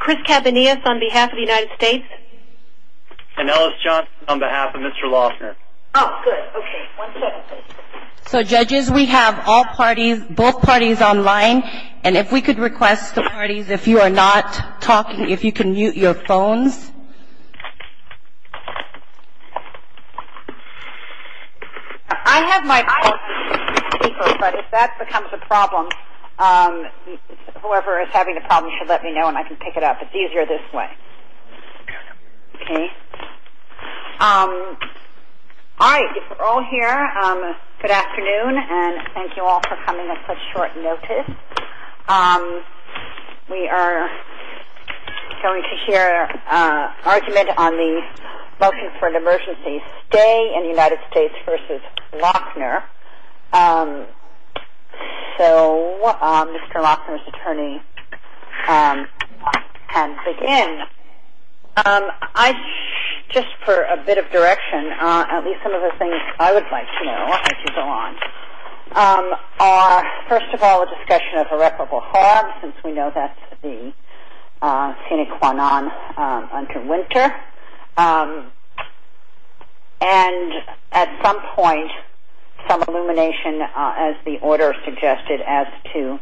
Chris Cabanillas on behalf of the United States And Ellis Johnson on behalf of Mr. Loughner So judges we have all parties, both parties online and if we could request the parties if you are not talking if you can mute your phones I have my phone but if that becomes a problem whoever is having a problem should let me know and I can pick it up it's easier this way Alright if we're all here good afternoon and thank you all for coming at such short notice We are going to hear an argument on the motion for an emergency stay in the United States v. Loughner So Mr. Loughner's attorney can begin Just for a bit of direction at least some of the things I would like to know as you go on are first of all a discussion of irreparable harm since we know that's the sine qua non under winter and at some point some illumination as the order suggested as to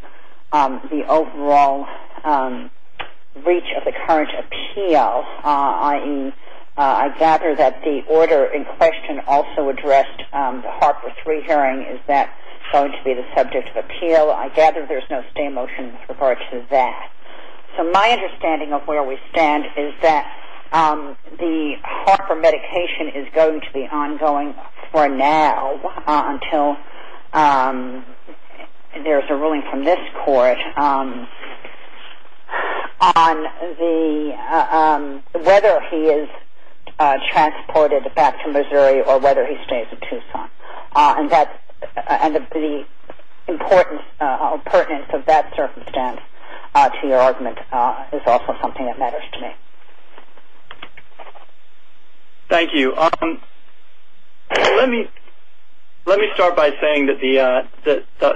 the overall reach of the current appeal I gather that the order in question also addressed the Harper 3 hearing is that going to be the subject of appeal I gather there's no stay motion with regard to that So my understanding of where we stand is that the Harper medication is going to be ongoing for now until there's a ruling from this court on whether he is transported back to Missouri or whether he stays in Tucson and the importance of that circumstance to your argument is also something that matters to me Thank you Let me start by saying that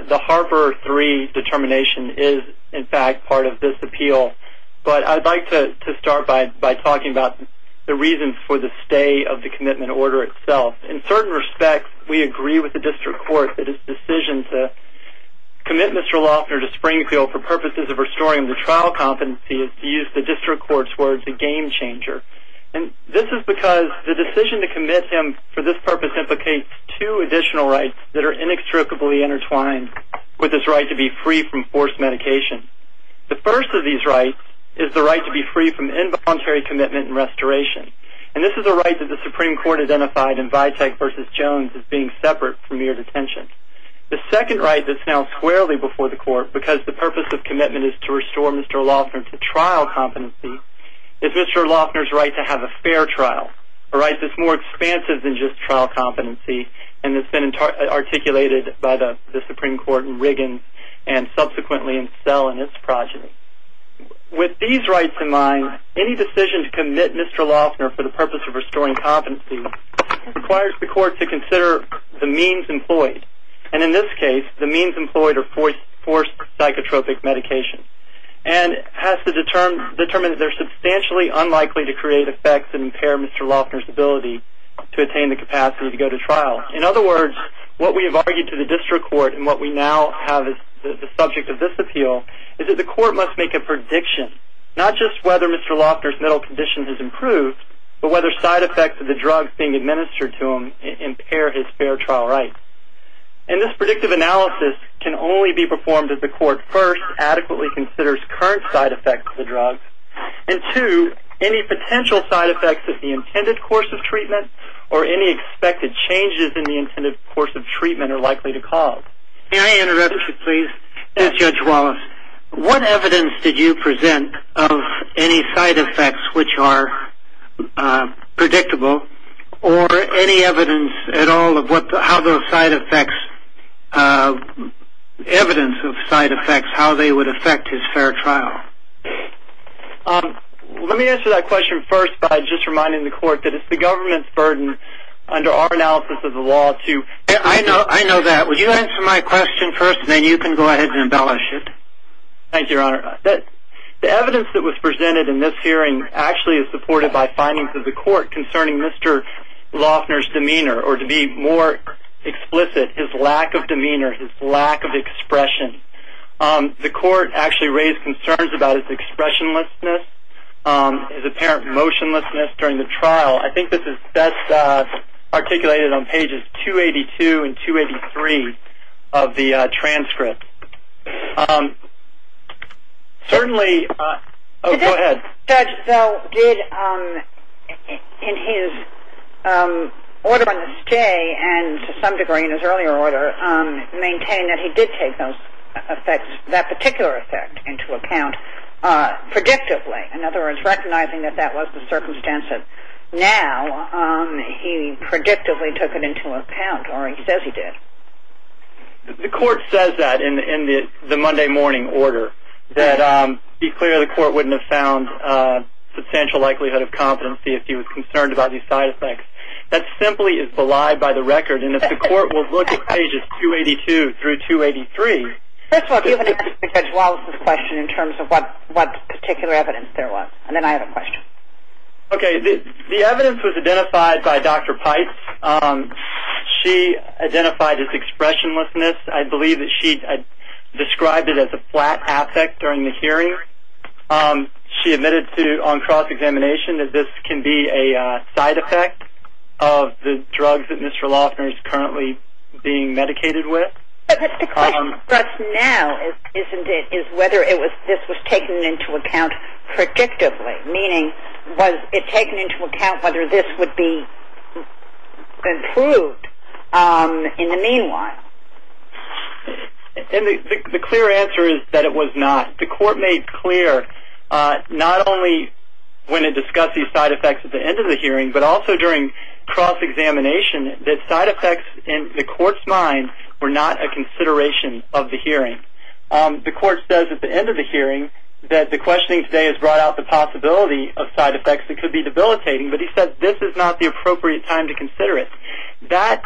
the Harper 3 determination is in fact part of this appeal but I'd like to start by talking about the reasons for the stay of the commitment order itself. In certain respects we agree with the district court that his decision to commit Mr. Loughner to Springfield for purposes of restoring him to trial competency is, to use the district court's words, a game changer. This is because the decision to commit him for this purpose implicates two additional rights that are inextricably intertwined with his right to be free from forced medication The first of these rights is the right to be free from involuntary commitment and restoration and this is a right that the Supreme Court identified in Vitek v. Jones as being separate from mere detention. The second right that's now squarely before the court because the purpose of commitment is to restore Mr. Loughner to trial competency is Mr. Loughner's right to have a fair trial a right that's more expansive than just trial competency and has been articulated by the Supreme Court in Riggins and subsequently in Sell and its progeny. With these rights in mind any decision to commit Mr. Loughner for the purpose of restoring competency requires the court to consider the means employed and in this case the means employed are forced psychotropic medications and has to determine that they're substantially unlikely to create effects and impair Mr. Loughner's ability to attain the capacity to go to trial. In other words, what we have argued to the district court and what we now have as the subject of this appeal is that the court must make a prediction, not just whether Mr. Loughner's mental condition has improved but whether side effects of the drugs being administered to him impair his fair trial rights. And this predictive analysis can only be performed if the court first adequately considers current side effects of the drugs and two, any potential side effects of the intended course of treatment or any expected changes in the intended course of treatment are likely to cause. May I interrupt you please? Yes. Judge Wallace, what evidence did you present of any side effects which are predictable or any evidence at all of how those side effects evidence of side effects, how they would affect his fair trial? Let me answer that question first by just reminding the court that it's the government's burden under our analysis of the law to... I know that. Would you answer my question first and then you can go ahead and embellish it. Thank you, Your Honor. The evidence that was presented in this hearing actually is supported by findings of the court concerning Mr. Loughner's demeanor or to be more explicit, his lack of demeanor, his lack of expression. The court actually raised concerns about his expressionlessness, his apparent motionlessness during the trial. I think this is best articulated on pages 282 and 283 of the transcript. Certainly... Judge Zell did in his order on this day and to some degree in his earlier order maintain that he did take that particular effect into account predictably. In other words, recognizing that that was the circumstance of now he predictably took it into account or he says he did. The court says that in the Monday morning order that to be clear the court wouldn't have found substantial likelihood of competency if he was concerned about these side effects. That simply is belied by the record and if the court will look at pages 282 through 283... First of all, do you have any answer to Judge Wallace's question in terms of what particular evidence there was? And then I have a question. Okay, the evidence was identified by Dr. Pites. She identified his expressionlessness. I believe that she described it as a flat affect during the hearing. She admitted to on cross-examination that this can be a side effect of the drugs that Mr. Loeffner is currently being medicated with. But the question for us now, isn't it, is whether this was taken into account predictably, meaning was it taken into account whether this would be improved in the meanwhile? The clear answer is that it was not. The court made clear not only when it discussed these side effects at the end of the hearing but also during cross-examination that side effects in the court's mind were not a consideration of the hearing. The court says at the end of the hearing that the questioning today has brought out the possibility of side effects that could be debilitating, but he says this is not the appropriate time to consider it. That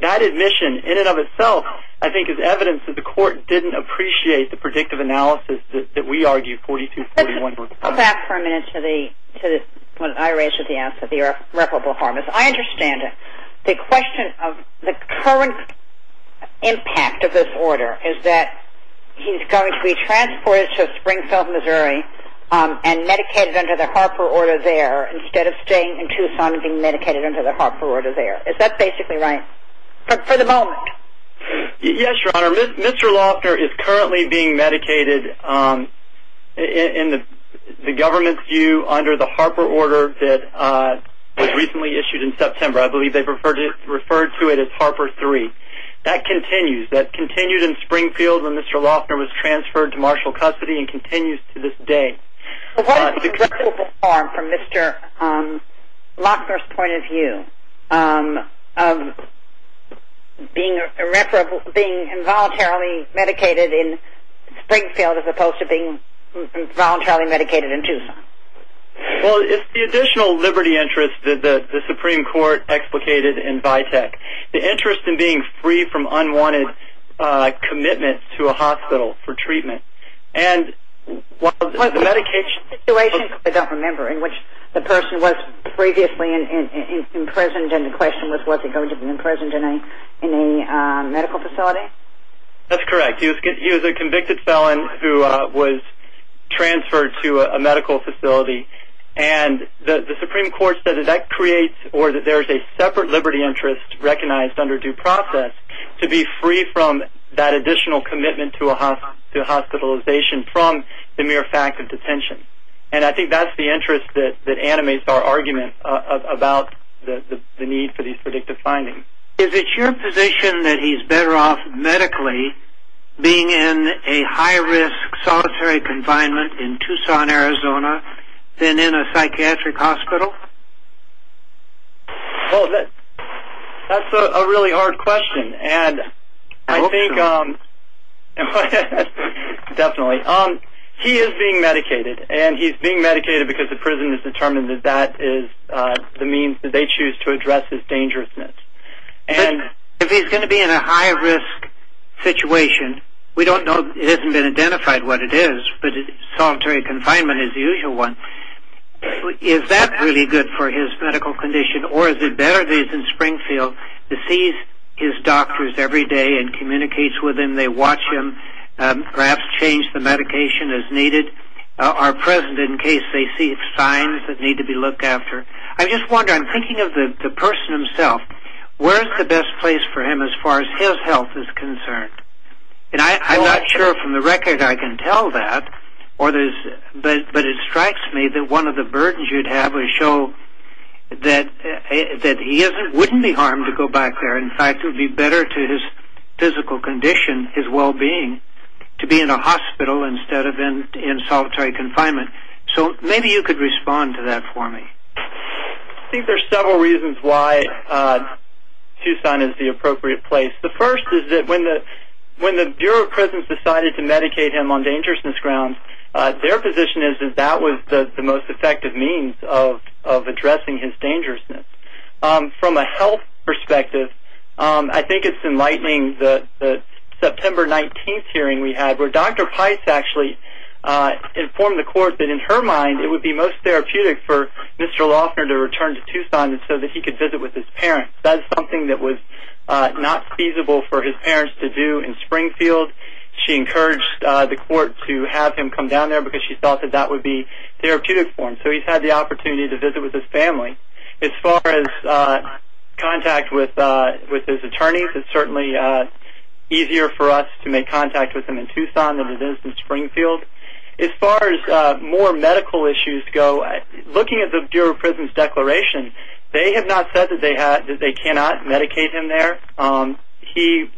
admission in and of itself I think is evidence that the court didn't appreciate the predictive analysis that we argued 42-41. I understand it. The question of the current impact of this order is that he's going to be transported to Springfield, Missouri and medicated under the Harper order there instead of staying in Tucson and being medicated under the Harper order there. Is that basically right for the moment? Yes, Your Honor. Mr. Loeffner is currently being medicated in the government's view under the Harper order that was recently issued in September. I believe they referred to it as Harper III. That continues. That continued in Springfield when Mr. Loeffner was transferred to marshal custody and continues to this day. What is the reversible harm from Mr. Loeffner's point of view of being involuntarily medicated in Springfield as opposed to being involuntarily medicated in Tucson? It's the additional liberty interest that the Supreme Court explicated in Vitek. The interest in being free from unwanted commitment to a hospital for treatment. Was this a situation, I don't remember, in which the person was previously imprisoned and the question was was he going to be imprisoned in a medical facility? That's correct. He was a convicted felon who was transferred to a medical facility. The Supreme Court said there's a separate liberty interest recognized under due process to be free from that additional commitment to hospitalization from the mere fact of detention. I think that's the interest that animates our argument about the need for these predictive findings. Is it your position that he's better off medically being in a high-risk solitary confinement in Tucson, Arizona than in a psychiatric hospital? That's a really hard question. Definitely. He is being medicated and he's being medicated because the prison has determined that that is the means that they choose to address his dangerousness. If he's going to be in a high-risk situation, we don't know, it hasn't been identified what it is, but solitary confinement is the usual one. Is that really good for his medical condition or is it better that he's in Springfield, that he sees his doctors every day and communicates with them, they watch him, perhaps change the medication as needed, are present in case they see signs that need to be looked after? I'm just wondering, I'm thinking of the person himself, where is the best place for him as far as his health is concerned? I'm not sure from the record I can tell that, but it strikes me that one of the burdens you'd have would show that he wouldn't be harmed to go back there. In fact, it would be better to his physical condition, his well-being, to be in a hospital instead of in solitary confinement. So maybe you could respond to that for me. I think there's several reasons why Tucson is the appropriate place. The first is that when the Bureau of Prisons decided to lock him up, their position is that that was the most effective means of addressing his dangerousness. From a health perspective, I think it's enlightening that the September 19th hearing we had where Dr. Pice actually informed the court that in her mind it would be most therapeutic for Mr. Loughner to return to Tucson so that he could visit with his parents. That is something that was not feasible for his parents to do in Springfield. She encouraged the court to have him come down there because she thought that that would be therapeutic for him. So he's had the opportunity to visit with his family. As far as contact with his attorneys, it's certainly easier for us to make contact with them in Tucson than it is in Springfield. As far as more medical issues go, looking at the Bureau of Prisons declaration, they have not said that they cannot medicate him there.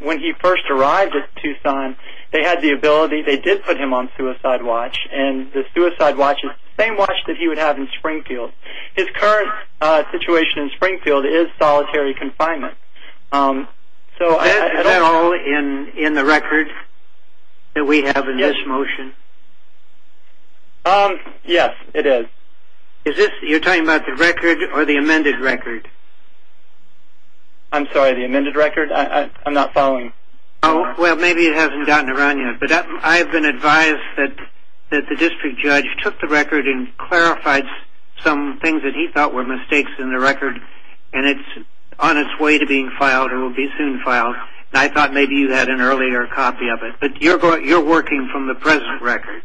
When he first arrived in Tucson, they had the ability, they did put him on suicide watch and the suicide watch is the same watch that he would have in Springfield. His current situation in Springfield is solitary confinement. Is that at all in the record that we have in this motion? Yes, it is. You're talking about the record or the amended record? I'm sorry, the amended record? I'm not following. Well, maybe it hasn't gotten around yet. I've been advised that the district judge took the record and clarified some things that he thought were mistakes in the record and it's on its way to being filed or will be soon filed. I thought maybe you had an earlier copy of it, but you're working from the present record.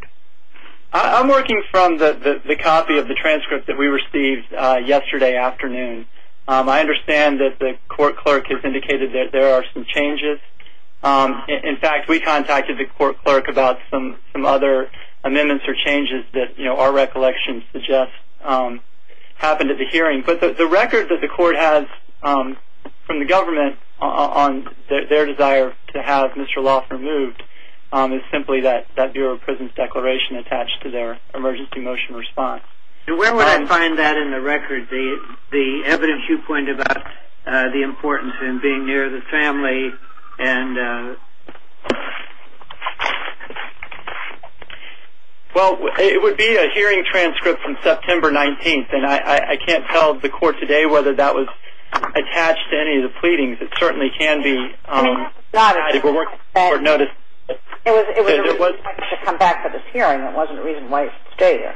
I'm working from the copy of the transcript that we received yesterday afternoon. I understand that the court clerk has indicated that there are some changes. In fact, we contacted the court clerk about some other amendments or changes that our recollection suggests happened at the hearing. The record that the court has from the government on their desire to have Mr. Loft removed is simply that Bureau of Prisons declaration attached to their emergency motion response. Where would I find that in the record? The evidence you pointed out, the importance in being near the family and Well, it would be a hearing transcript from September 19th and I can't tell the court today whether that was attached to any of the pleadings. It certainly can be It was a reason to come back to this hearing. It wasn't a reason why he should stay here.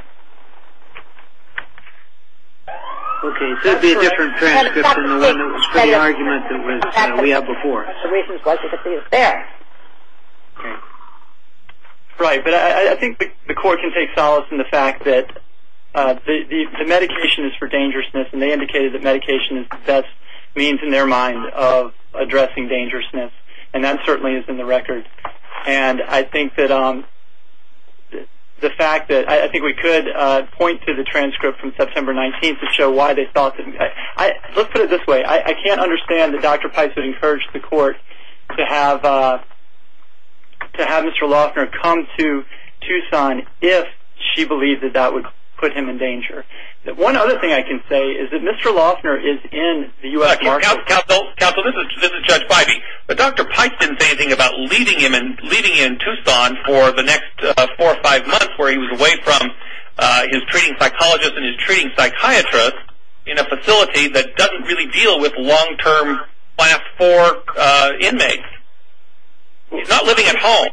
Okay, it could be a different transcript than the one that was for the argument that we had before. Right, but I think the court can take solace in the fact that the medication is for dangerousness and they indicated that medication is the best means in their mind of addressing dangerousness. And that certainly is in the record. And I think that the fact that, I think we could point to the transcript from September 19th to show why they thought that Let's put it this way. I can't understand that Dr. Peiss would encourage the court to have Mr. Loftner come to Tucson if she believed that that would put him in danger. One other thing I can say is that Mr. Loftner is in the U.S. Market Counsel, this is Judge Pipey, but Dr. Peiss didn't say anything about leaving in Tucson for the next 4 or 5 months where he was away from his treating psychologist and his treating psychiatrist in a facility that doesn't really deal with long-term class 4 inmates. He's not living at home.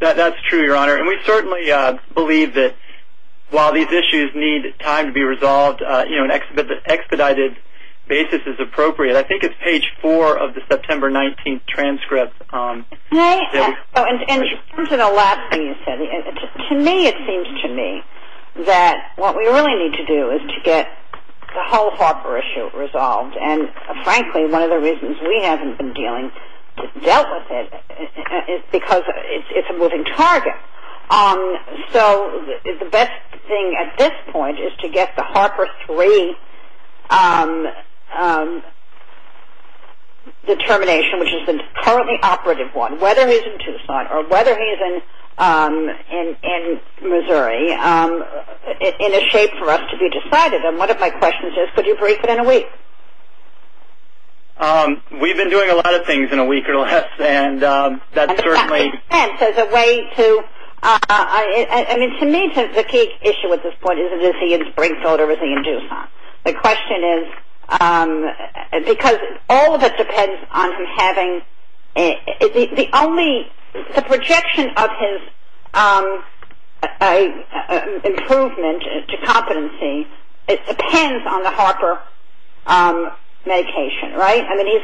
That's true, Your Honor. And we certainly believe that while these issues need time to be resolved, expedited basis is appropriate. I think it's page 4 of the September 19th And in terms of the last thing you said, to me it seems to me that what we really need to do is to get the whole Harper issue resolved. And frankly, one of the reasons we haven't been dealing, dealt with it is because it's a moving target. So the best thing at this point is to get the Harper 3 determination, which is a currently operative one, whether he's in Tucson or whether he's in Missouri, in a shape for us to be decided. And one of my questions is, could you brief it in a week? We've been doing a lot of things in a week or less, and that's certainly... And the fact that he's spent, there's a way to I mean, to me the key issue at this point is, is he in Springfield or is he in Tucson? The question is, because all of it depends on him having, the only the projection of his improvement to competency depends on the Harper medication, right? I mean,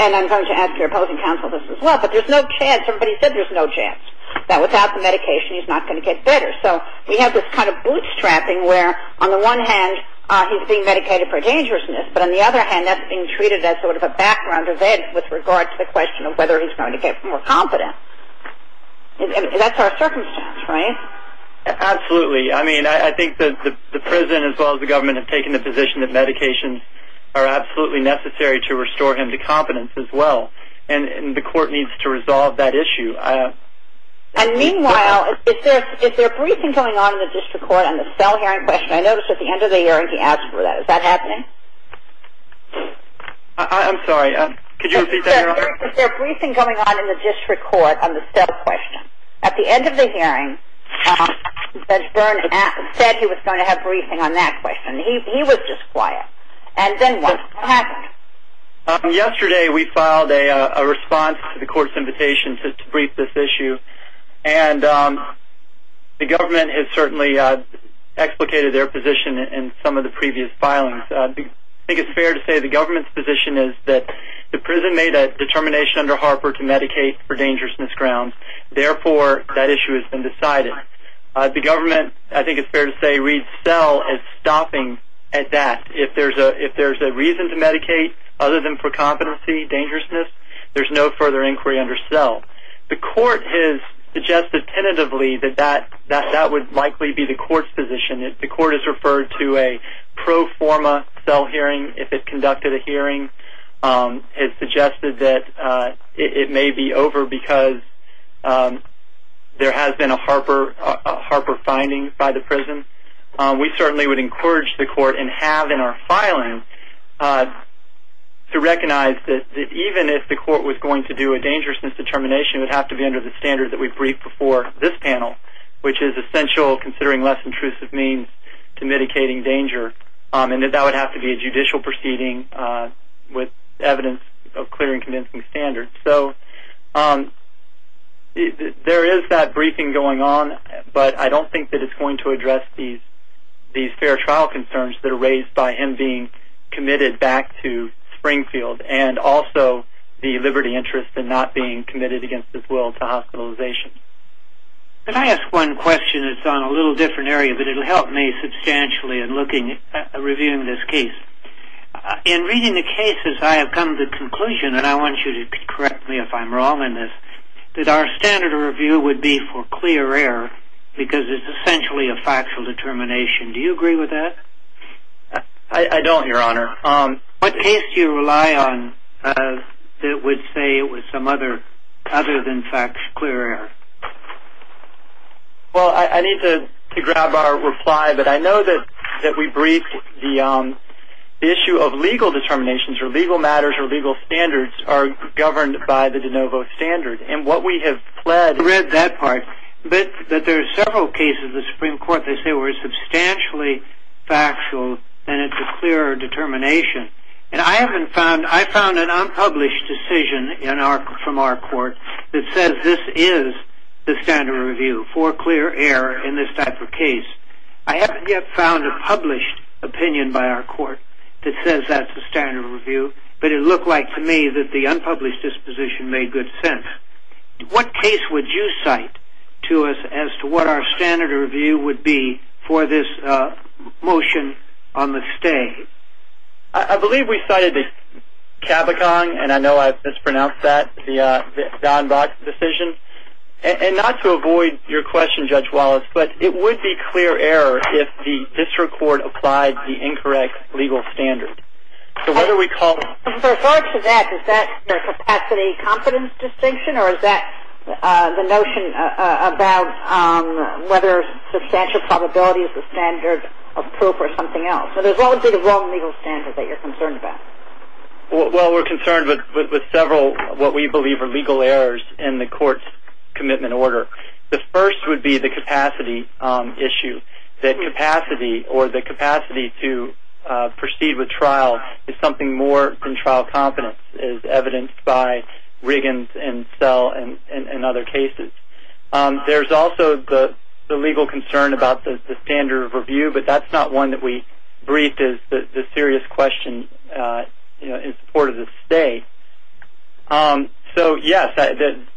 and I'm going to add to your opposing counsel this as well, but there's no chance, everybody said there's no chance that without the medication he's not going to get better. So we have this kind of bootstrapping where on the one hand he's being medicated for dangerousness, but on the other hand that's being treated as sort of a background event with regard to the question of whether he's going to get more competence. And that's our circumstance, right? Absolutely. I mean, I think the prison as well as the government have taken the position that medications are absolutely necessary to restore him to competence as well. And the court needs to resolve that issue. And meanwhile, if there are briefings going on in the district court on the cell hearing question, I noticed at the end of the hearing he asked for that. Is that happening? I'm sorry, could you repeat that, Your Honor? If there are briefings going on in the district court on the cell question, at the end of the hearing Judge Byrne said he was going to have briefing on that question. He was just quiet. And then what happened? Yesterday we filed a response to the court's invitation to brief this issue. And the government has certainly explicated their position in some of the previous filings. I think it's fair to say the government's position is that the prison made a determination under Harper to medicate for dangerousness grounds. Therefore that issue has been decided. The government, I think it's fair to say, reads cell as stopping at that. If there's a reason to medicate other than for competency, dangerousness, there's no further inquiry under cell. The court has suggested tentatively that that would likely be the court's position. The court has referred to a pro forma cell hearing if it conducted a hearing. It's suggested that it may be over because there has been a Harper finding by the prison. We certainly would encourage the court and have in our filing to recognize that even if the court was going to do a dangerousness determination, it would have to be under the standard that we briefed before this panel, which is essential considering less intrusive means to mitigating danger. And that would have to be a judicial proceeding with evidence of clear and convincing standards. There is that briefing going on, but I don't think that it's going to address these fair trial concerns that are raised by him being committed back to Springfield and also the liberty and interest in not being committed against his will to hospitalization. Can I ask one question? It's on a little different area, but it will help me substantially in reviewing this case. In reading the cases, I have come to the conclusion, and I want you to correct me if I'm wrong in this, that our standard of review would be for clear error because it's essentially a factual determination. Do you agree with that? I don't, Your Honor. What case do you rely on that would say it was some other than facts, clear error? Well, I need to grab our reply, but I know that we briefed the issue of legal determinations or legal matters or legal standards are governed by the de novo standard. And what we have pled, I read that part, that there are several cases in the Supreme Court that say we're substantially factual and it's a clear determination. And I haven't found, I found an unpublished decision from our court that says this is the standard of review for clear error in this type of case. I haven't yet found a published opinion by our court that says that's the standard of review, but it looked like to me that the unpublished disposition made good sense. What case would you cite to us as to what our standard of review would be for this motion on the sting? I believe we cited the Cavicong, and I know I mispronounced that, the Donbach decision. And not to avoid your question, Judge Wallace, but it would be clear error if the district court applied the incorrect legal standard. So whether we call... In regards to that, is that the capacity-competence distinction, or is that the notion about whether substantial probability is the thing else? So there's obviously the wrong legal standard that you're concerned about. Well, we're concerned with several of what we believe are legal errors in the court's commitment order. The first would be the capacity issue, that capacity, or the capacity to proceed with trial is something more than trial competence, as evidenced by Riggins and Sell and other cases. There's also the legal concern about the standard of review, but that's not one that we briefed as the serious question in support of the state. So yes,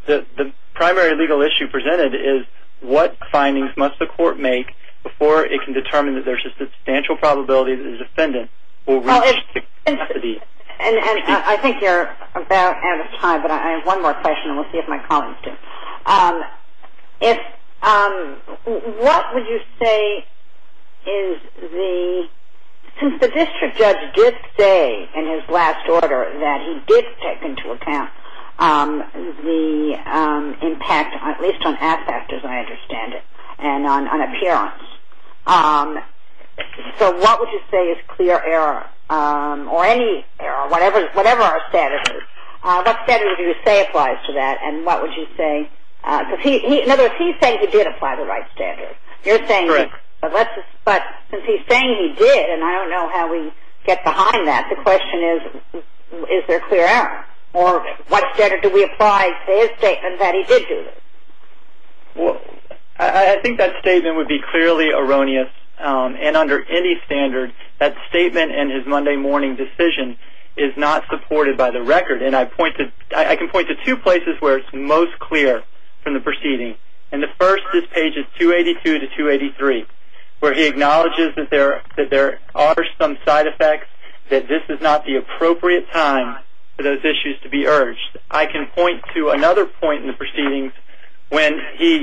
the primary legal issue presented is what findings must the court make before it can determine that there's a substantial probability that the defendant will reach the capacity to proceed? And I think you're about out of time, but I have one more question and we'll see if my colleagues do. What would you say is the, since the district judge did say in his last order that he did take into account the impact, at least on aspect, as I understand it, and on appearance, so what would you say is clear error, or any error, whatever our standard is? What standard would you say applies to that, and what would you say? In other words, he's saying he did apply the right standard. You're saying, but since he's saying he did, and I don't know how we get behind that, the question is is there clear error? Or what standard do we apply to his statement that he did do this? Well, I think that statement would be clearly erroneous, and under any standard that statement and his Monday morning decision is not supported by the court. There are two places where it's most clear from the proceeding, and the first is pages 282 to 283, where he acknowledges that there are some side effects, that this is not the appropriate time for those issues to be urged. I can point to another point in the proceedings when he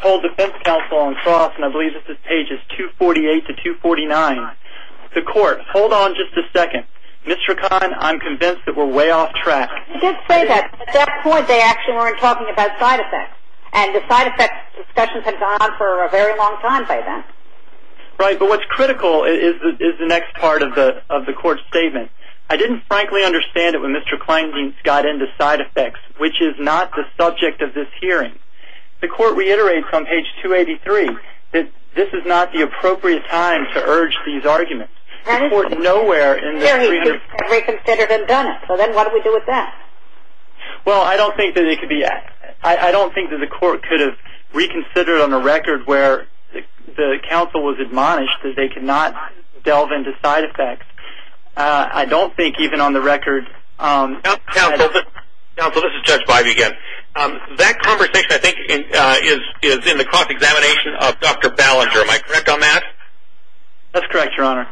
told defense counsel on cross, and I believe this is pages 248 to 249, the court, hold on just a second, Mr. Kahn, I'm convinced that we're way off track. He did say that, but at that point they actually weren't talking about side effects, and the side effects discussions had gone on for a very long time by then. Right, but what's critical is the next part of the court's statement. I didn't frankly understand it when Mr. Kleindienst got into side effects, which is not the subject of this hearing. The court reiterates on page 283 that this is not the appropriate time to urge these arguments. The court nowhere in this What do we do with that? Well, I don't think that it could be... I don't think that the court could have reconsidered on the record where the counsel was admonished that they could not delve into side effects. I don't think even on the record... Counsel, this is Judge Bivey again. That conversation I think is in the cross-examination of Dr. Ballinger. Am I correct on that? That's correct, Your Honor.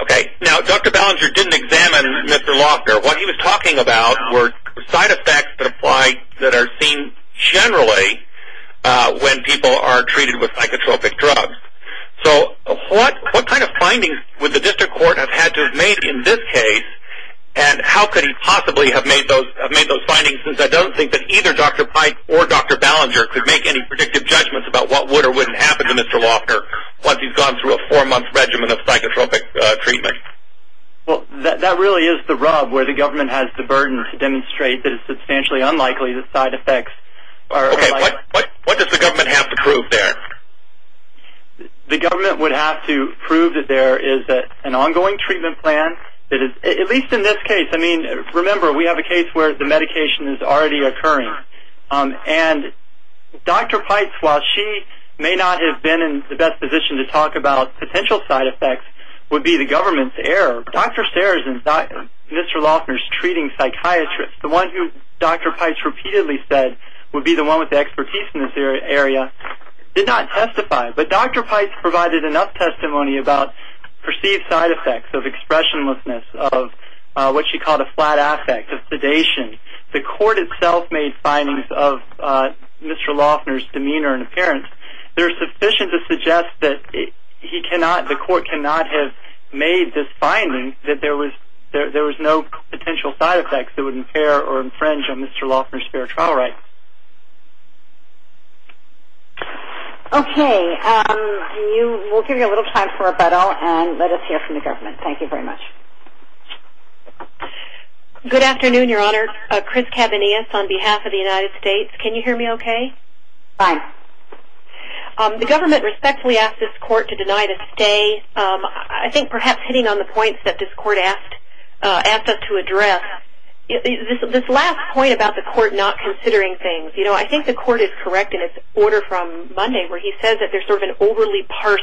Okay, now Dr. Ballinger didn't examine Mr. Loftner. What he was talking about were side effects that apply that are seen generally when people are treated with psychotropic drugs. So what kind of findings would the district court have had to have made in this case, and how could he possibly have made those findings, since I don't think that either Dr. Pike or Dr. Ballinger could make any predictive judgments about what would or wouldn't happen to Mr. Loftner once he's gone through a four-month regimen of psychotropic treatment. Well, that really is the rub where the government has the burden to demonstrate that it's substantially unlikely that side effects are... Okay, what does the government have to prove there? The government would have to prove that there is an ongoing treatment plan that is, at least in this case, I mean, remember we have a case where the medication is already occurring. And Dr. Pike, while she may not have been in the best position to talk about potential side effects, would be the government's error. Dr. Sears and Mr. Loftner's treating psychiatrist, the one who Dr. Pike repeatedly said would be the one with the expertise in this area, did not testify. But Dr. Pike provided enough testimony about perceived side effects of expressionlessness, of what she called a flat affect, of sedation. The court itself made findings of Mr. Loftner's demeanor and appearance. They're sufficient to suggest that the court cannot have made this finding that there was no potential side effects that would impair or infringe on Mr. Loftner's fair trial rights. Okay, we'll give you a little time for rebuttal and let us hear from the government. Thank you very much. Good afternoon, Your Honor. Chris Cabanillas on behalf of the United States. Can you hear me okay? Fine. The government respectfully asked this court to deny the stay. I think perhaps hitting on the points that this court asked us to address, this last point about the court not considering things. I think the court is correct in its order from Monday where he says that there's sort of an overly parsed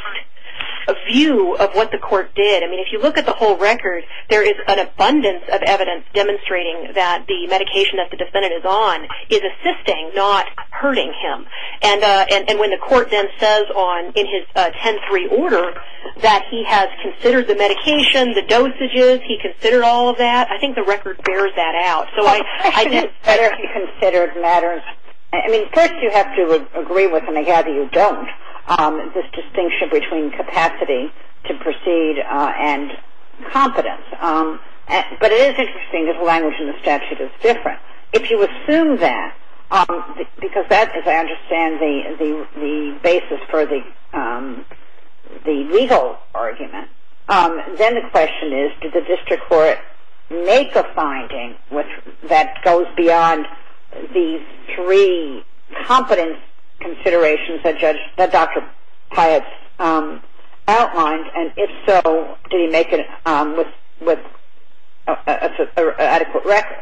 view of what the court did. If you look at the whole record, there is an abundance of evidence demonstrating that the medication that the defendant is on is assisting not hurting him. And when the court then says in his 10-3 order that he has considered the medication, the dosages, he considered all of that, I think the record bears that out. So I think whether he considered matters, I mean first you have to agree with him. I gather you don't. This distinction between capacity to proceed and confidence. But it is interesting because the language in the statute is different. If you assume that, because that as I understand the basis for the legal argument, then the question is, did the district court make a finding that goes beyond these three competence considerations that Dr. Pyatt's outlined, and if so, did he make it with adequate record?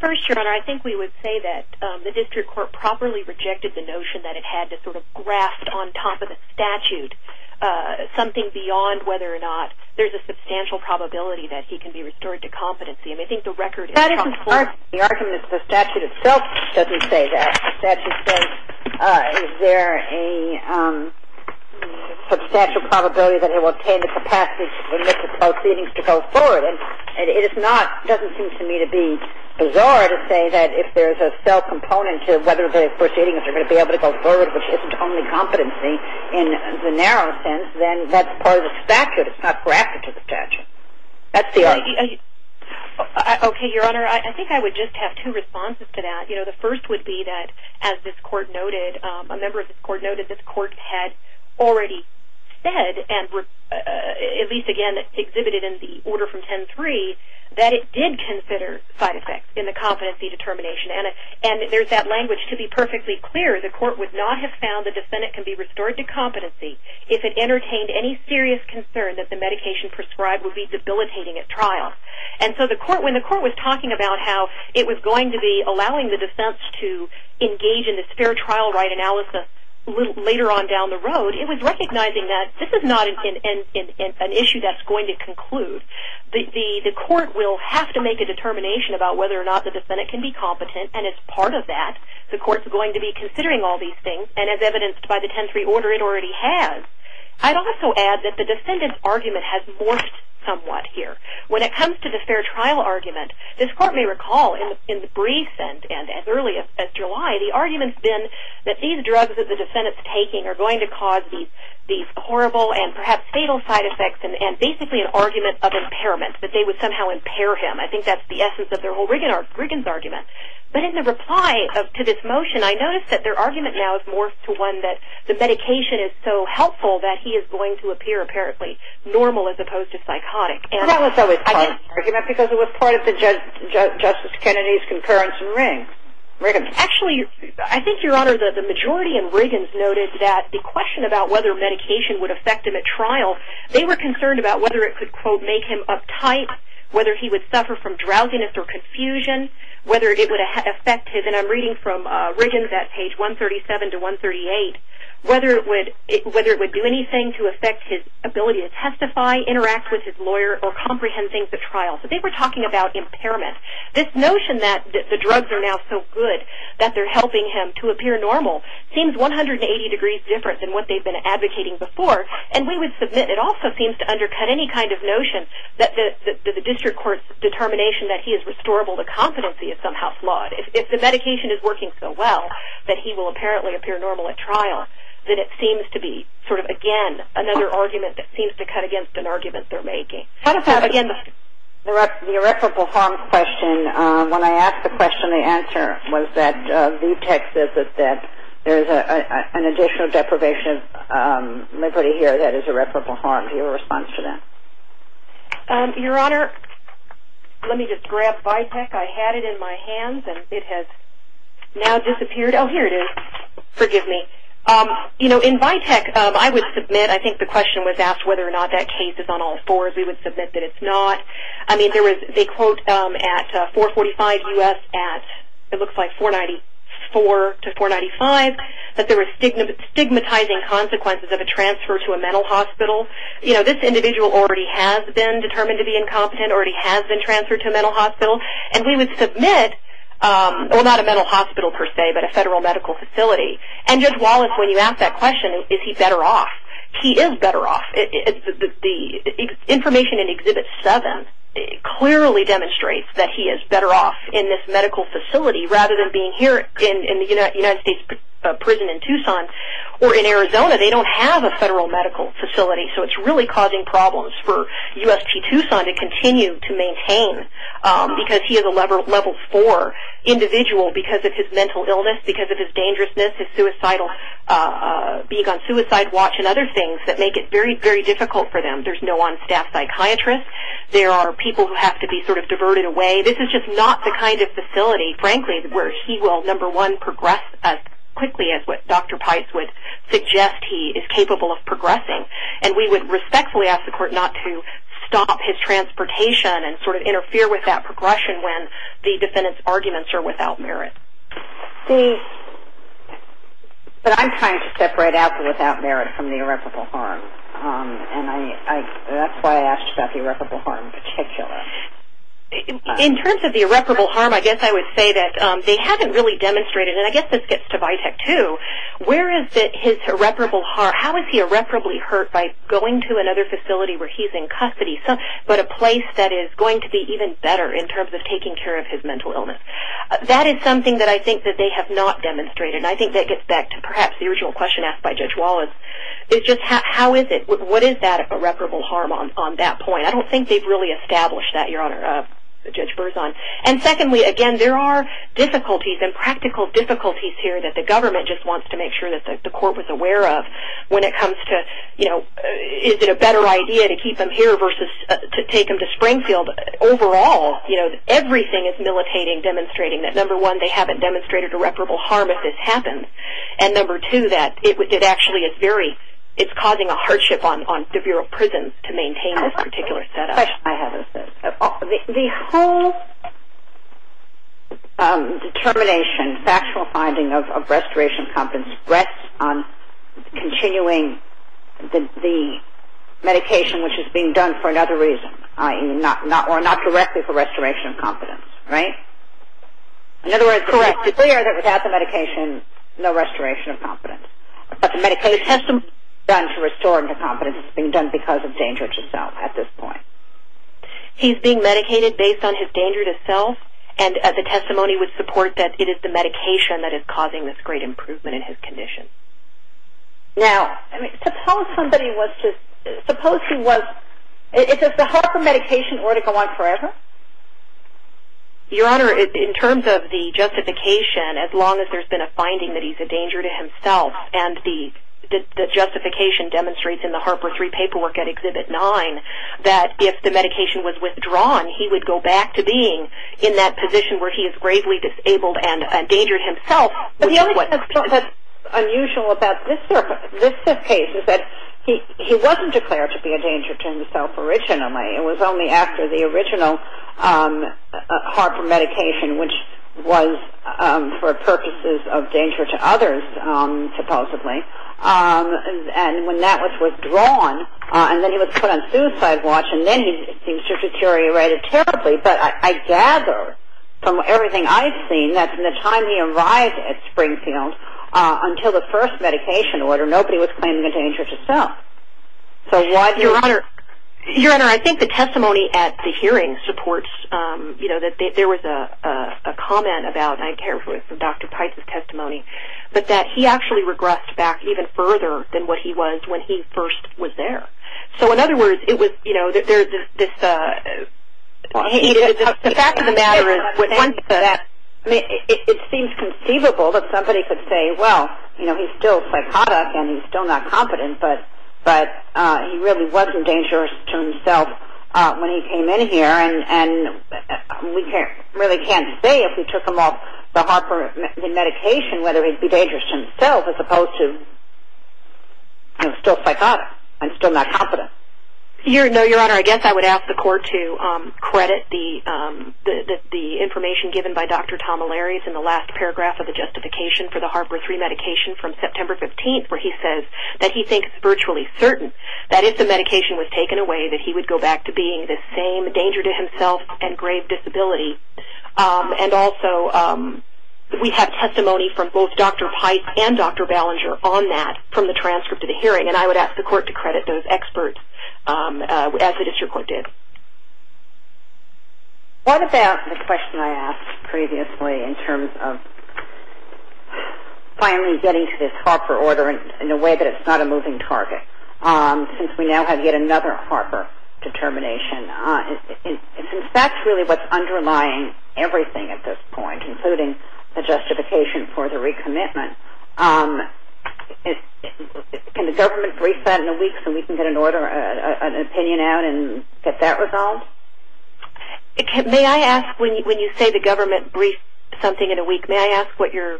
First, Your Honor, I think we would say that the district court properly rejected the notion that it had to sort of graft on top of the statute something beyond whether or not there's a substantial probability that he can be restored to competency. I mean, I think the record is... That isn't part of the argument. The statute itself doesn't say that. The statute says, is there a substantial probability that he will maintain the capacity to go forward. And it is not, doesn't seem to me to be bizarre to say that if there's a self-component to whether the proceedings are going to be able to go forward, which isn't only competency in the narrow sense, then that's part of the statute. It's not grafted to the statute. That's the argument. Okay, Your Honor. I think I would just have two responses to that. You know, the first would be that as this court noted, a member of this court noted, this court had already said, and at least again exhibited in the order from 10-3, that it did consider side effects in the competency determination. And there's that language, to be perfectly clear, the court would not have found the defendant can be restored to competency if it entertained any serious concern that the medication prescribed would be debilitating at trial. And so the court, when the court was talking about how it was going to be allowing the defense to engage in this fair trial right analysis later on down the road, it was recognizing that this is not an issue that's going to conclude. The court will have to make a determination about whether or not the defendant can be competent, and it's part of that. The court's going to be considering all these things, and as evidenced by the 10-3 order, it already has. I'd also add that the defendant's argument has morphed somewhat here. When it comes to the fair trial argument, this court has always been that these drugs that the defendant's taking are going to cause these horrible and perhaps fatal side effects, and basically an argument of impairment, that they would somehow impair him. I think that's the essence of their whole Riggins argument. But in the reply to this motion, I noticed that their argument now has morphed to one that the medication is so helpful that he is going to appear apparently normal as opposed to psychotic. That was always part of the argument because it was part of Justice Kennedy's concurrence in Riggins. Actually, I think, Your Honor, the majority in Riggins noted that the question about whether medication would affect him at trial, they were concerned about whether it could, quote, make him uptight, whether he would suffer from drowsiness or confusion, whether it would affect his – and I'm reading from Riggins at page 137 to 138 – whether it would do anything to affect his ability to testify, interact with his lawyer, or comprehend things at trial. So they were talking about impairment. This notion that the drugs are now so good that they're helping him to appear normal seems 180 degrees different than what they've been advocating before, and we would submit it also seems to undercut any kind of notion that the district court's determination that he is restorable to competency is somehow flawed. If the medication is working so well that he will apparently appear normal at trial, then it seems to be, sort of, again, another argument that seems to cut against an argument they're making. How about, again, the irreparable harm question? When I asked the question, the answer was that VTEC says that there's an additional deprivation of liberty here that is irreparable harm. Do you have a response to that? Your Honor, let me just grab VTEC. I had it in my hands and it has now disappeared. Oh, here it is. Forgive me. You know, in VTEC, I would submit – I think the question was asked whether or not that case is on all fours. We would submit that it's not. I mean, there was – they quote at 445 U.S. at – it looks like 494 to 495 that there was stigmatizing consequences of a transfer to a mental hospital. You know, this individual already has been determined to be incompetent, already has been transferred to a mental hospital, and we would submit – well, not a mental hospital, per se, but a federal medical facility. And Judge Wallace, when you ask that question, is he better off? He is better off. The information in Exhibit 7 clearly demonstrates that he is better off in this medical facility rather than being here in the United States prison in Tucson or in Arizona. They don't have a federal medical facility, so it's really causing problems for USP Tucson to continue to maintain because he is a Level 4 individual because of his mental illness, because of his dangerousness, his suicidal – other things that make it very, very difficult for them. There's no on-staff psychiatrist. There are people who have to be sort of diverted away. This is just not the kind of facility, frankly, where he will, number one, progress as quickly as what Dr. Pice would suggest he is capable of progressing. And we would respectfully ask the Court not to stop his transportation and sort of interfere with that progression when the defendant's arguments are without merit. The – but I'm trying to separate out the without merit from the irreparable harm. And I – that's why I asked about the irreparable harm in particular. In terms of the irreparable harm, I guess I would say that they haven't really demonstrated – and I guess this gets to Vitek, too – where is his irreparable – how is he irreparably hurt by going to another facility where he's in custody, but a place that is going to be even better in terms of taking care of his mental illness? That is something that I think that they have not – that's a question asked by Judge Wallace. It's just how is it – what is that irreparable harm on that point? I don't think they've really established that, Your Honor, Judge Berzon. And secondly, again, there are difficulties and practical difficulties here that the government just wants to make sure that the Court was aware of when it comes to, you know, is it a better idea to keep him here versus to take him to Springfield? Overall, you know, everything is militating, demonstrating that, number one, they haven't demonstrated irreparable harm when this happened, and number two, that it actually is very – it's causing a hardship on the Bureau of Prisons to maintain this particular setup. The whole determination, factual finding of restoration of confidence rests on continuing the medication which is being done for another reason, or not directly for restoration of confidence, right? In other words, it's clear that without the medication, no restoration of confidence. But the medication has to be done to restore the confidence that's being done because of danger to self at this point. He's being medicated based on his danger to self, and the testimony would support that it is the medication that is causing this great improvement in his condition. Now, suppose somebody was to – suppose Your Honor, in terms of the justification, as long as there's been a finding that he's a danger to himself, and the justification demonstrates in the Harper III paperwork at Exhibit 9 that if the medication was withdrawn, he would go back to being in that position where he is gravely disabled and a danger to himself. But the only thing that's unusual about this case is that he wasn't declared to be a danger to himself originally. It was only after the original Harper medication which was for purposes of danger to others, supposedly, and when that was withdrawn and then he was put on suicide watch, and then he seems to have deteriorated terribly. But I gather from everything I've seen that from the time he arrived at Springfield until the first medication order, nobody was claiming a danger to self. Your Honor, I think the testimony at the hearing supports – there was a comment about, and I care for Dr. Pites' testimony, but that he actually regressed back even further than what he was when he first was there. So in other words, it was – The fact of the matter is it seems conceivable that somebody could say, well, he's still psychotic and he's still not competent, but he really wasn't dangerous to himself when he came in here and we really can't say if we took him off the Harper medication whether he'd be dangerous to himself as opposed to still psychotic and still not competent. Your Honor, I guess I would ask the Court to credit the information given by Dr. Tom O'Leary in the last paragraph of the justification for the Harper 3 medication from September 15th where he says that he thinks virtually certain that if the medication was taken away that he would go back to being the same danger to himself and grave disability. And also we have testimony from both Dr. Pites and Dr. Ballinger on that from the transcript of the hearing, and I would ask the Court to credit those experts as the District Court did. What about the question I asked previously in terms of finally getting to this Harper order in a way that it's not a moving target? Since we now have yet another Harper determination and since that's really what's underlying everything at this point, including the justification for the recommitment, can the government brief that in a week so we can get an opinion out and get that resolved? May I ask, when you say the government briefed something in a week, may I ask what you're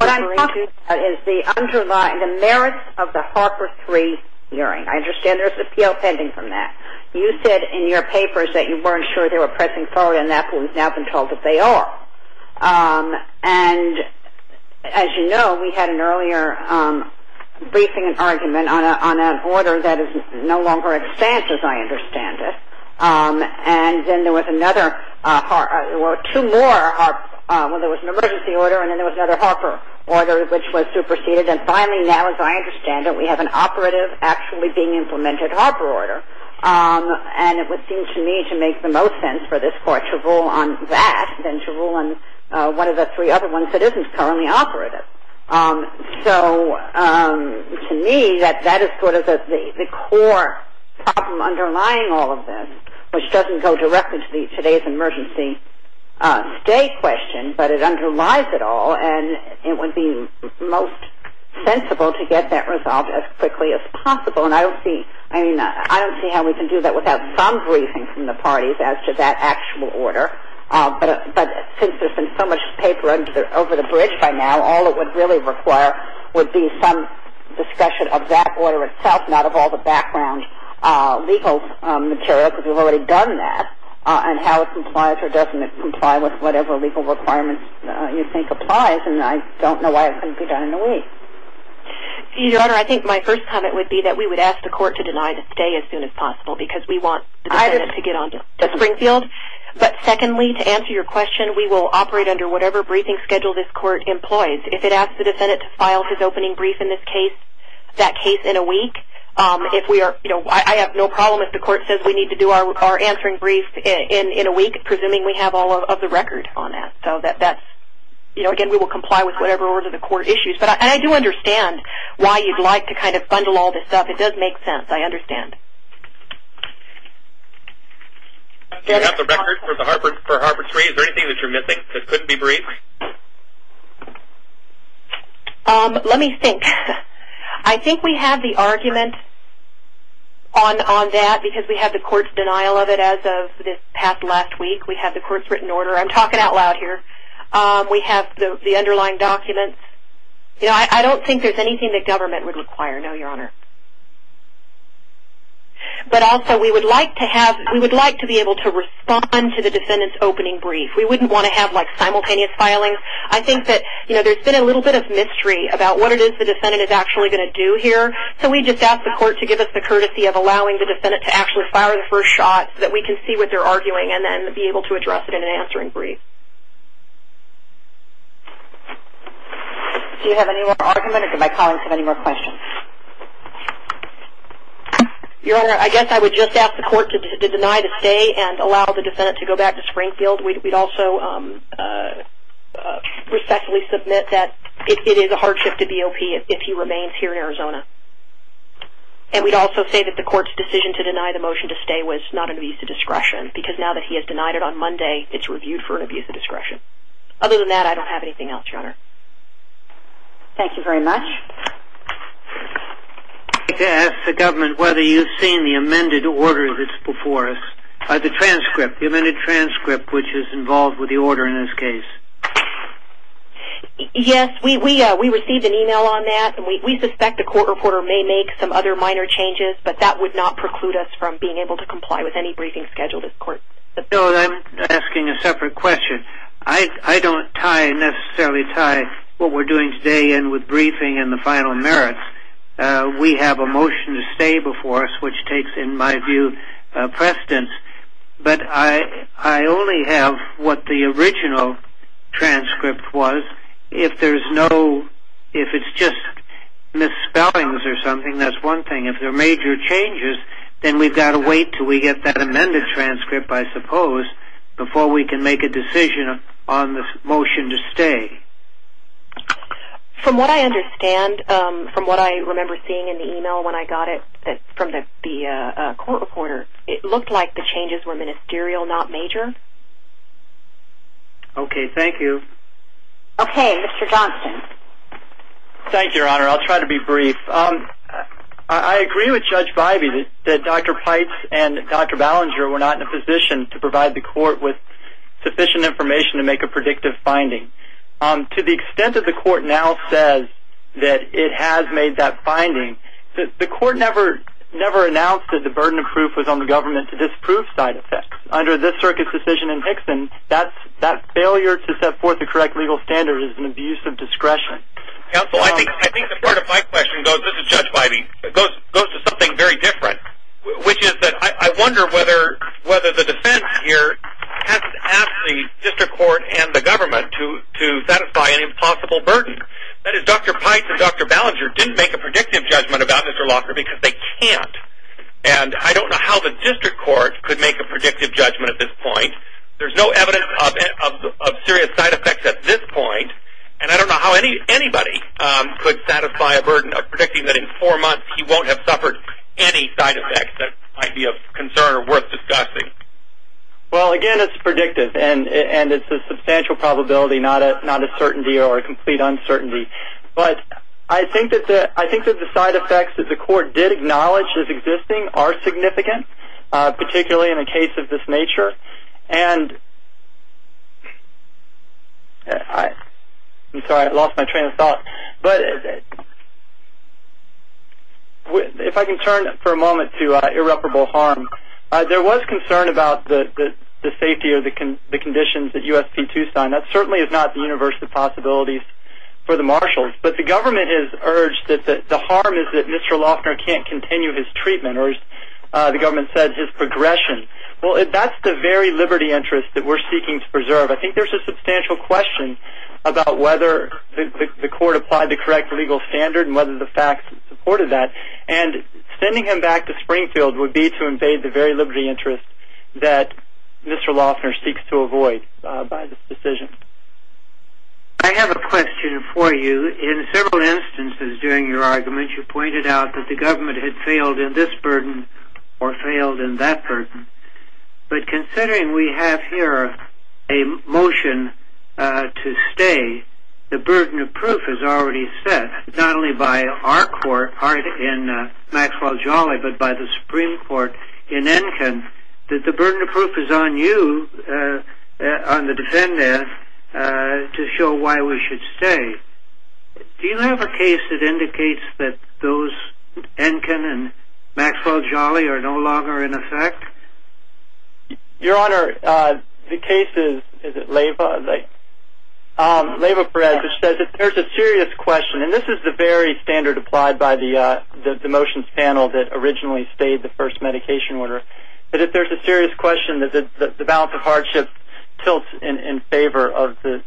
referring to? What I'm talking about is the merits of the Harper 3 hearing. I understand there's an appeal pending from that. You said in your papers that you weren't sure they were pressing forward enough, and we've now been told that they are. And as you know, we had an earlier briefing and argument on an order that is no longer in existence as I understand it, and then there was another two more when there was an emergency order, and then there was another Harper order which was superseded. And finally now, as I understand it, we have an operative actually being implemented Harper order. And it would seem to me to make the most sense for this Court to rule on that than to rule on one of the three other ones that isn't currently operative. So to me, that is sort of the core problem underlying all of this, which doesn't go directly to today's emergency stay question, but it underlies it all, and it would be most sensible to get that resolved as quickly as possible. And I don't see how we can do that without some briefing from the parties as to that actual order. But since there's been so much paper over the bridge by now, all it would really require would be some discussion of that order itself, not of all the background legal material, because we've already done that, and how it complies or doesn't comply with whatever legal requirements you think applies. And I don't know why it couldn't be done in a week. Your Honor, I think my first comment would be that we would ask the Court to deny the stay as soon as possible, because we want the defendant to get on to Springfield. But secondly, to answer your question, we will operate under whatever briefing schedule this Court employs. If it asks the defendant to file his opening brief in this case, that case in a week, I have no problem if the Court says we need to do our answering brief in a week, presuming we have all of the record on that. Again, we will comply with whatever order the Court issues. And I do understand why you'd like to kind of bundle all this stuff. It does make sense. I understand. Do you have the record for Harper 3? Is there anything that you're missing that couldn't be briefed? Let me think. I think we have the argument on that, because we have the Court's denial of it as of this past last week. We have the Court's written order. I'm talking out loud here. We have the underlying documents. I don't think there's anything the Government would require. No, Your Honor. But also, we would like to be able to respond to the defendant's opening brief. We wouldn't want to have simultaneous filings. I think that there's been a little bit of mystery about what it is the defendant is actually going to do here. So we just ask the Court to give us the courtesy of allowing the defendant to actually fire the first shot so that we can see what they're arguing and then be able to address it in an answering brief. Do you have any more argument, or do my colleagues have any more questions? Your Honor, I guess I would just ask the Court to deny the stay and allow the defendant to go back to Springfield. We'd also respectfully submit that it is a hardship to BOP if he remains here in Arizona. And we'd also say that the Court's decision to deny the motion to stay was not an abuse of discretion because now that he has denied it on Monday, it's reviewed for an abuse of discretion. Other than that, I don't have anything else, Your Honor. Thank you very much. I'd like to ask the Government whether you've seen the amended transcript which is involved with the order in this case. Yes, we received an email on that. We suspect the Court reporter may make some other minor changes, but that would not preclude us from being able to comply with any briefing scheduled at court. I'm asking a separate question. I don't necessarily tie what we're doing today in with briefing and the final merits. We have a motion to stay before us, which takes, in my view, precedence. But I only have what the original transcript was. If there's no misspellings or something, that's one thing. If there are major changes, then we've got to wait until we get that amended transcript, I suppose, before we can make a decision on the motion to stay. From what I understand, from what I remember seeing in the email when I got it from the Court reporter, it looked like the changes were ministerial, not major. Okay, thank you. Okay, Mr. Johnson. Thank you, Your Honor. I'll try to be brief. I agree with Judge Bybee that Dr. Pites and Dr. Ballinger were not in a position to provide the Court with sufficient information to make a predictive finding. To the extent that the Court now says that it has made that finding, the Court never announced that the burden of proof was on the Government to disprove side effects. Under this circuit's decision in Hickson, that failure to set forth the correct legal standard is an abuse of discretion. Counsel, I think the part of my question goes to something very different, which is that I wonder whether the defense here has asked the District Court and the Government to satisfy an impossible burden. That is, Dr. Pites and Dr. Ballinger didn't make a predictive judgment about Mr. Locker because they can't. And I don't know how the District Court could make a predictive judgment at this point. There's no evidence of serious side effects at this point. And I don't know how anybody could satisfy a burden of predicting that in four months he won't have suffered any side effects that might be of concern or worth discussing. Well, again, it's predictive. And it's a substantial probability, not a certainty or a complete uncertainty. But I think that the side effects that the Court did acknowledge as existing are significant, particularly in a case of this nature. I'm sorry, I lost my train of thought. If I can turn for a moment to irreparable harm, there was concern about the safety of the conditions that USP-2 signed. That certainly is not the universe of possibilities for the Marshals. But the Government has urged that the harm is that Mr. Lochner can't continue his treatment, or as the Government said, his progression. Well, that's the very liberty interest that we're seeking to preserve. I think there's a substantial question about whether the Court applied the correct legal standard and whether the facts supported that. And sending him back to Springfield would be to invade the very liberty interest that Mr. Lochner seeks to avoid by this decision. I have a question for you. In several instances during your argument, you pointed out that the Government had failed in this burden or failed in that burden. But considering we have here a motion to stay, the burden of proof is already set not only by our Court in Maxwell Jolly, but by the Supreme Court in Enkin, that the burden of proof is on you, on the defendant, to show why we should stay. Do you have a case that indicates that those, Enkin and Maxwell Jolly, are no longer in effect? Your Honor, the case is, is it Leyva? Leyva Perez, which says if there's a serious question, and this is the very standard applied by the motions panel that originally stayed the first medication order, that if there's a serious question, that the balance of hardship tilts in favor of the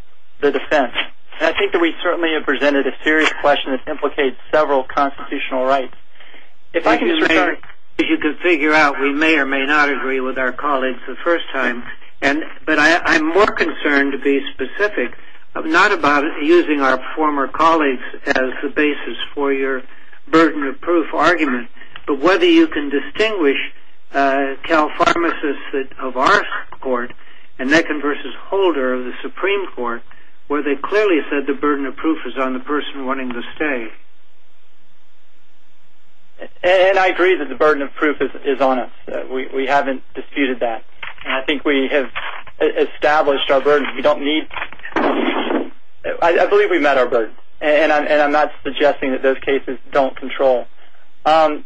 defense. And I think that we certainly have presented a serious question that implicates several constitutional rights. If I can just say, as you can figure out, we may or may not agree with our colleagues the first time, but I'm more concerned to be specific, not about using our former colleagues as the basis for your burden of proof argument, but whether you can distinguish Cal Pharmacist of our court, and Enkin v. Holder of the Supreme Court, where they clearly said the burden of proof is on the person wanting to stay. And I agree that the burden of proof is on us. We haven't disputed that. And I think we have established our burden. We don't need... I believe we've met our burden. And I'm not suggesting that those cases don't fall under our control.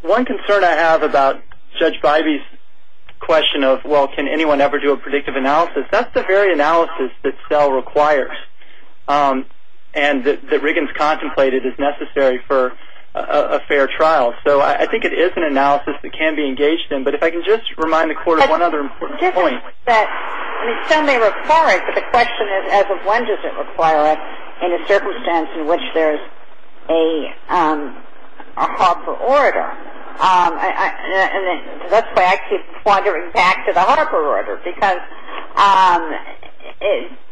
One concern I have about Judge Bybee's question of, well, can anyone ever do a predictive analysis? That's the very analysis that SELL requires. And that Riggins contemplated is necessary for a fair trial. So I think it is an analysis that can be engaged in. But if I can just remind the court of one other important point. SELL may require it, but the question is, as of when does it require it in a circumstance in which there's a Harper order? And that's why I keep wandering back to the Harper order, because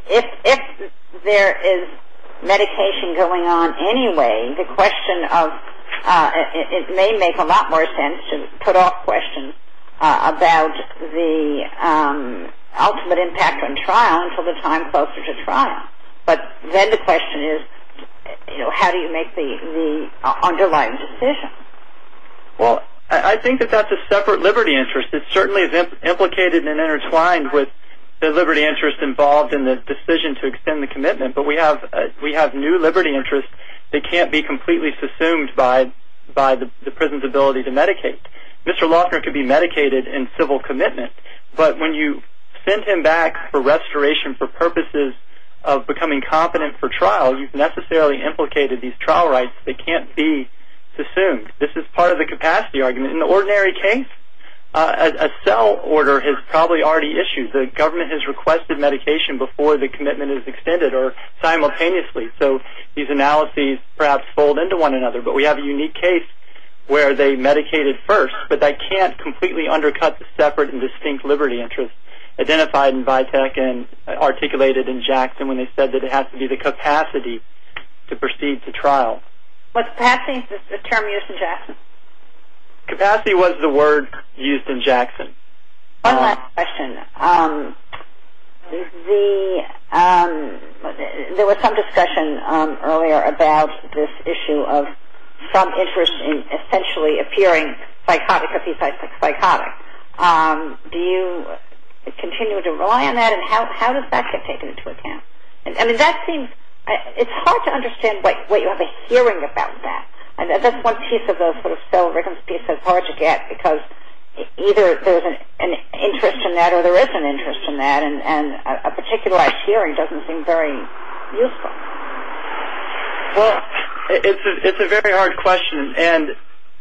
if there is medication going on anyway, the question of, it may make a lot more sense to put off questions about the ultimate impact on trial until the time closer to trial. But then the question is, how do you make the underlying decision? Well, I think that that's a separate liberty interest. It certainly is implicated and intertwined with the liberty interest involved in the decision to extend the commitment. But we have new liberty interests that can't be completely subsumed by the prison's ability to medicate. Mr. Lofner could be medicated in civil commitment, but when you send him back for restoration for purposes of becoming competent for trial, you've necessarily implicated these trial rights that can't be subsumed. This is part of the capacity argument. In the ordinary case, a SELL order is probably already issued. The government has requested medication before the commitment is extended, or simultaneously. So these analyses perhaps fold into one another. But we have a unique case where they medicated first, but that can't completely undercut the separate and distinct liberty interests identified in VITEC and articulated in Jackson when they said that it has to be the capacity to proceed to trial. Was capacity the term used in Jackson? Capacity was the word used in Jackson. One last question. There was some discussion earlier about this issue of some interest in essentially appearing psychotic, psychopathy psychotic. Do you continue to rely on that, and how does that get taken into account? It's hard to understand what you have a hearing about that. That's one piece of the SELL written piece that's hard to get, because either there's an interest in that or there isn't an interest in that, and a particularized hearing doesn't seem very useful. Well, it's a very hard question, and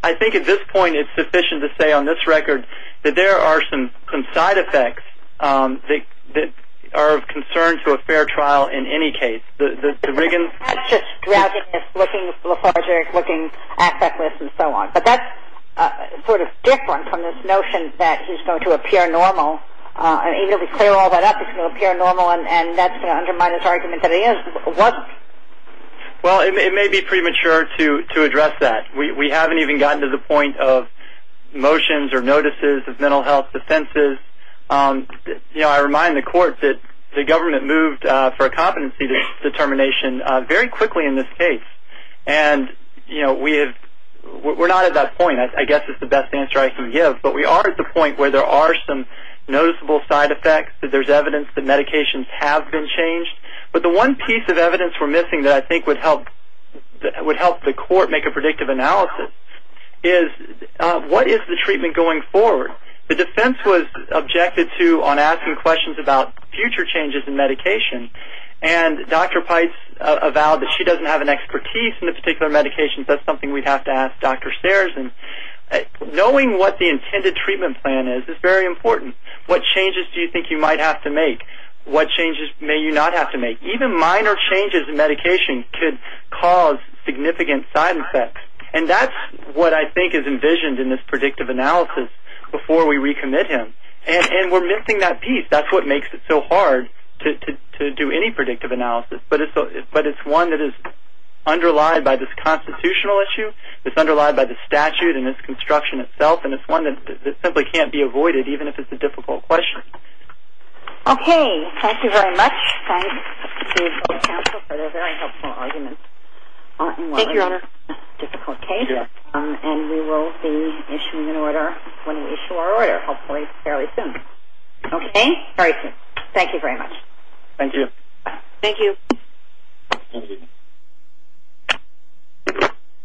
I think at this point it's sufficient to say on this record that there are some side effects that are of concern to a fair trial in any case. The Riggins? It's just drowsiness, looking lethargic, looking affectless, and so on. But that's sort of different from this notion that he's going to appear normal. Even if we clear all that up, he's going to appear normal, and that's going to undermine his argument that he is. Well, it may be premature to add to the point of motions or notices of mental health offenses. I remind the Court that the government moved for a competency determination very quickly in this case, and we're not at that point. I guess it's the best answer I can give, but we are at the point where there are some noticeable side effects, that there's evidence that medications have been changed. But the one piece of evidence we're missing that I think would help the Court make a predictive analysis is what is the treatment going forward? The defense was objected to on asking questions about future changes in medication, and Dr. Peitz avowed that she doesn't have an expertise in a particular medication, so that's something we'd have to ask Dr. Sears. Knowing what the intended treatment plan is is very important. What changes do you think you might have to make? What changes may you not have to make? Even minor changes in medication could cause significant side effects, and that's what I think is envisioned in this predictive analysis before we recommit him. And we're missing that piece. That's what makes it so hard to do any predictive analysis, but it's one that is underlied by this constitutional issue, it's underlied by the statute and its construction itself, and it's one that simply can't be avoided, even if it's a difficult question. Okay, thank you very much. Thank you. Thank you, Your Honor. And we will be issuing an order when we issue our order, hopefully fairly soon. Okay? Very soon. Thank you very much. Thank you. Thank you.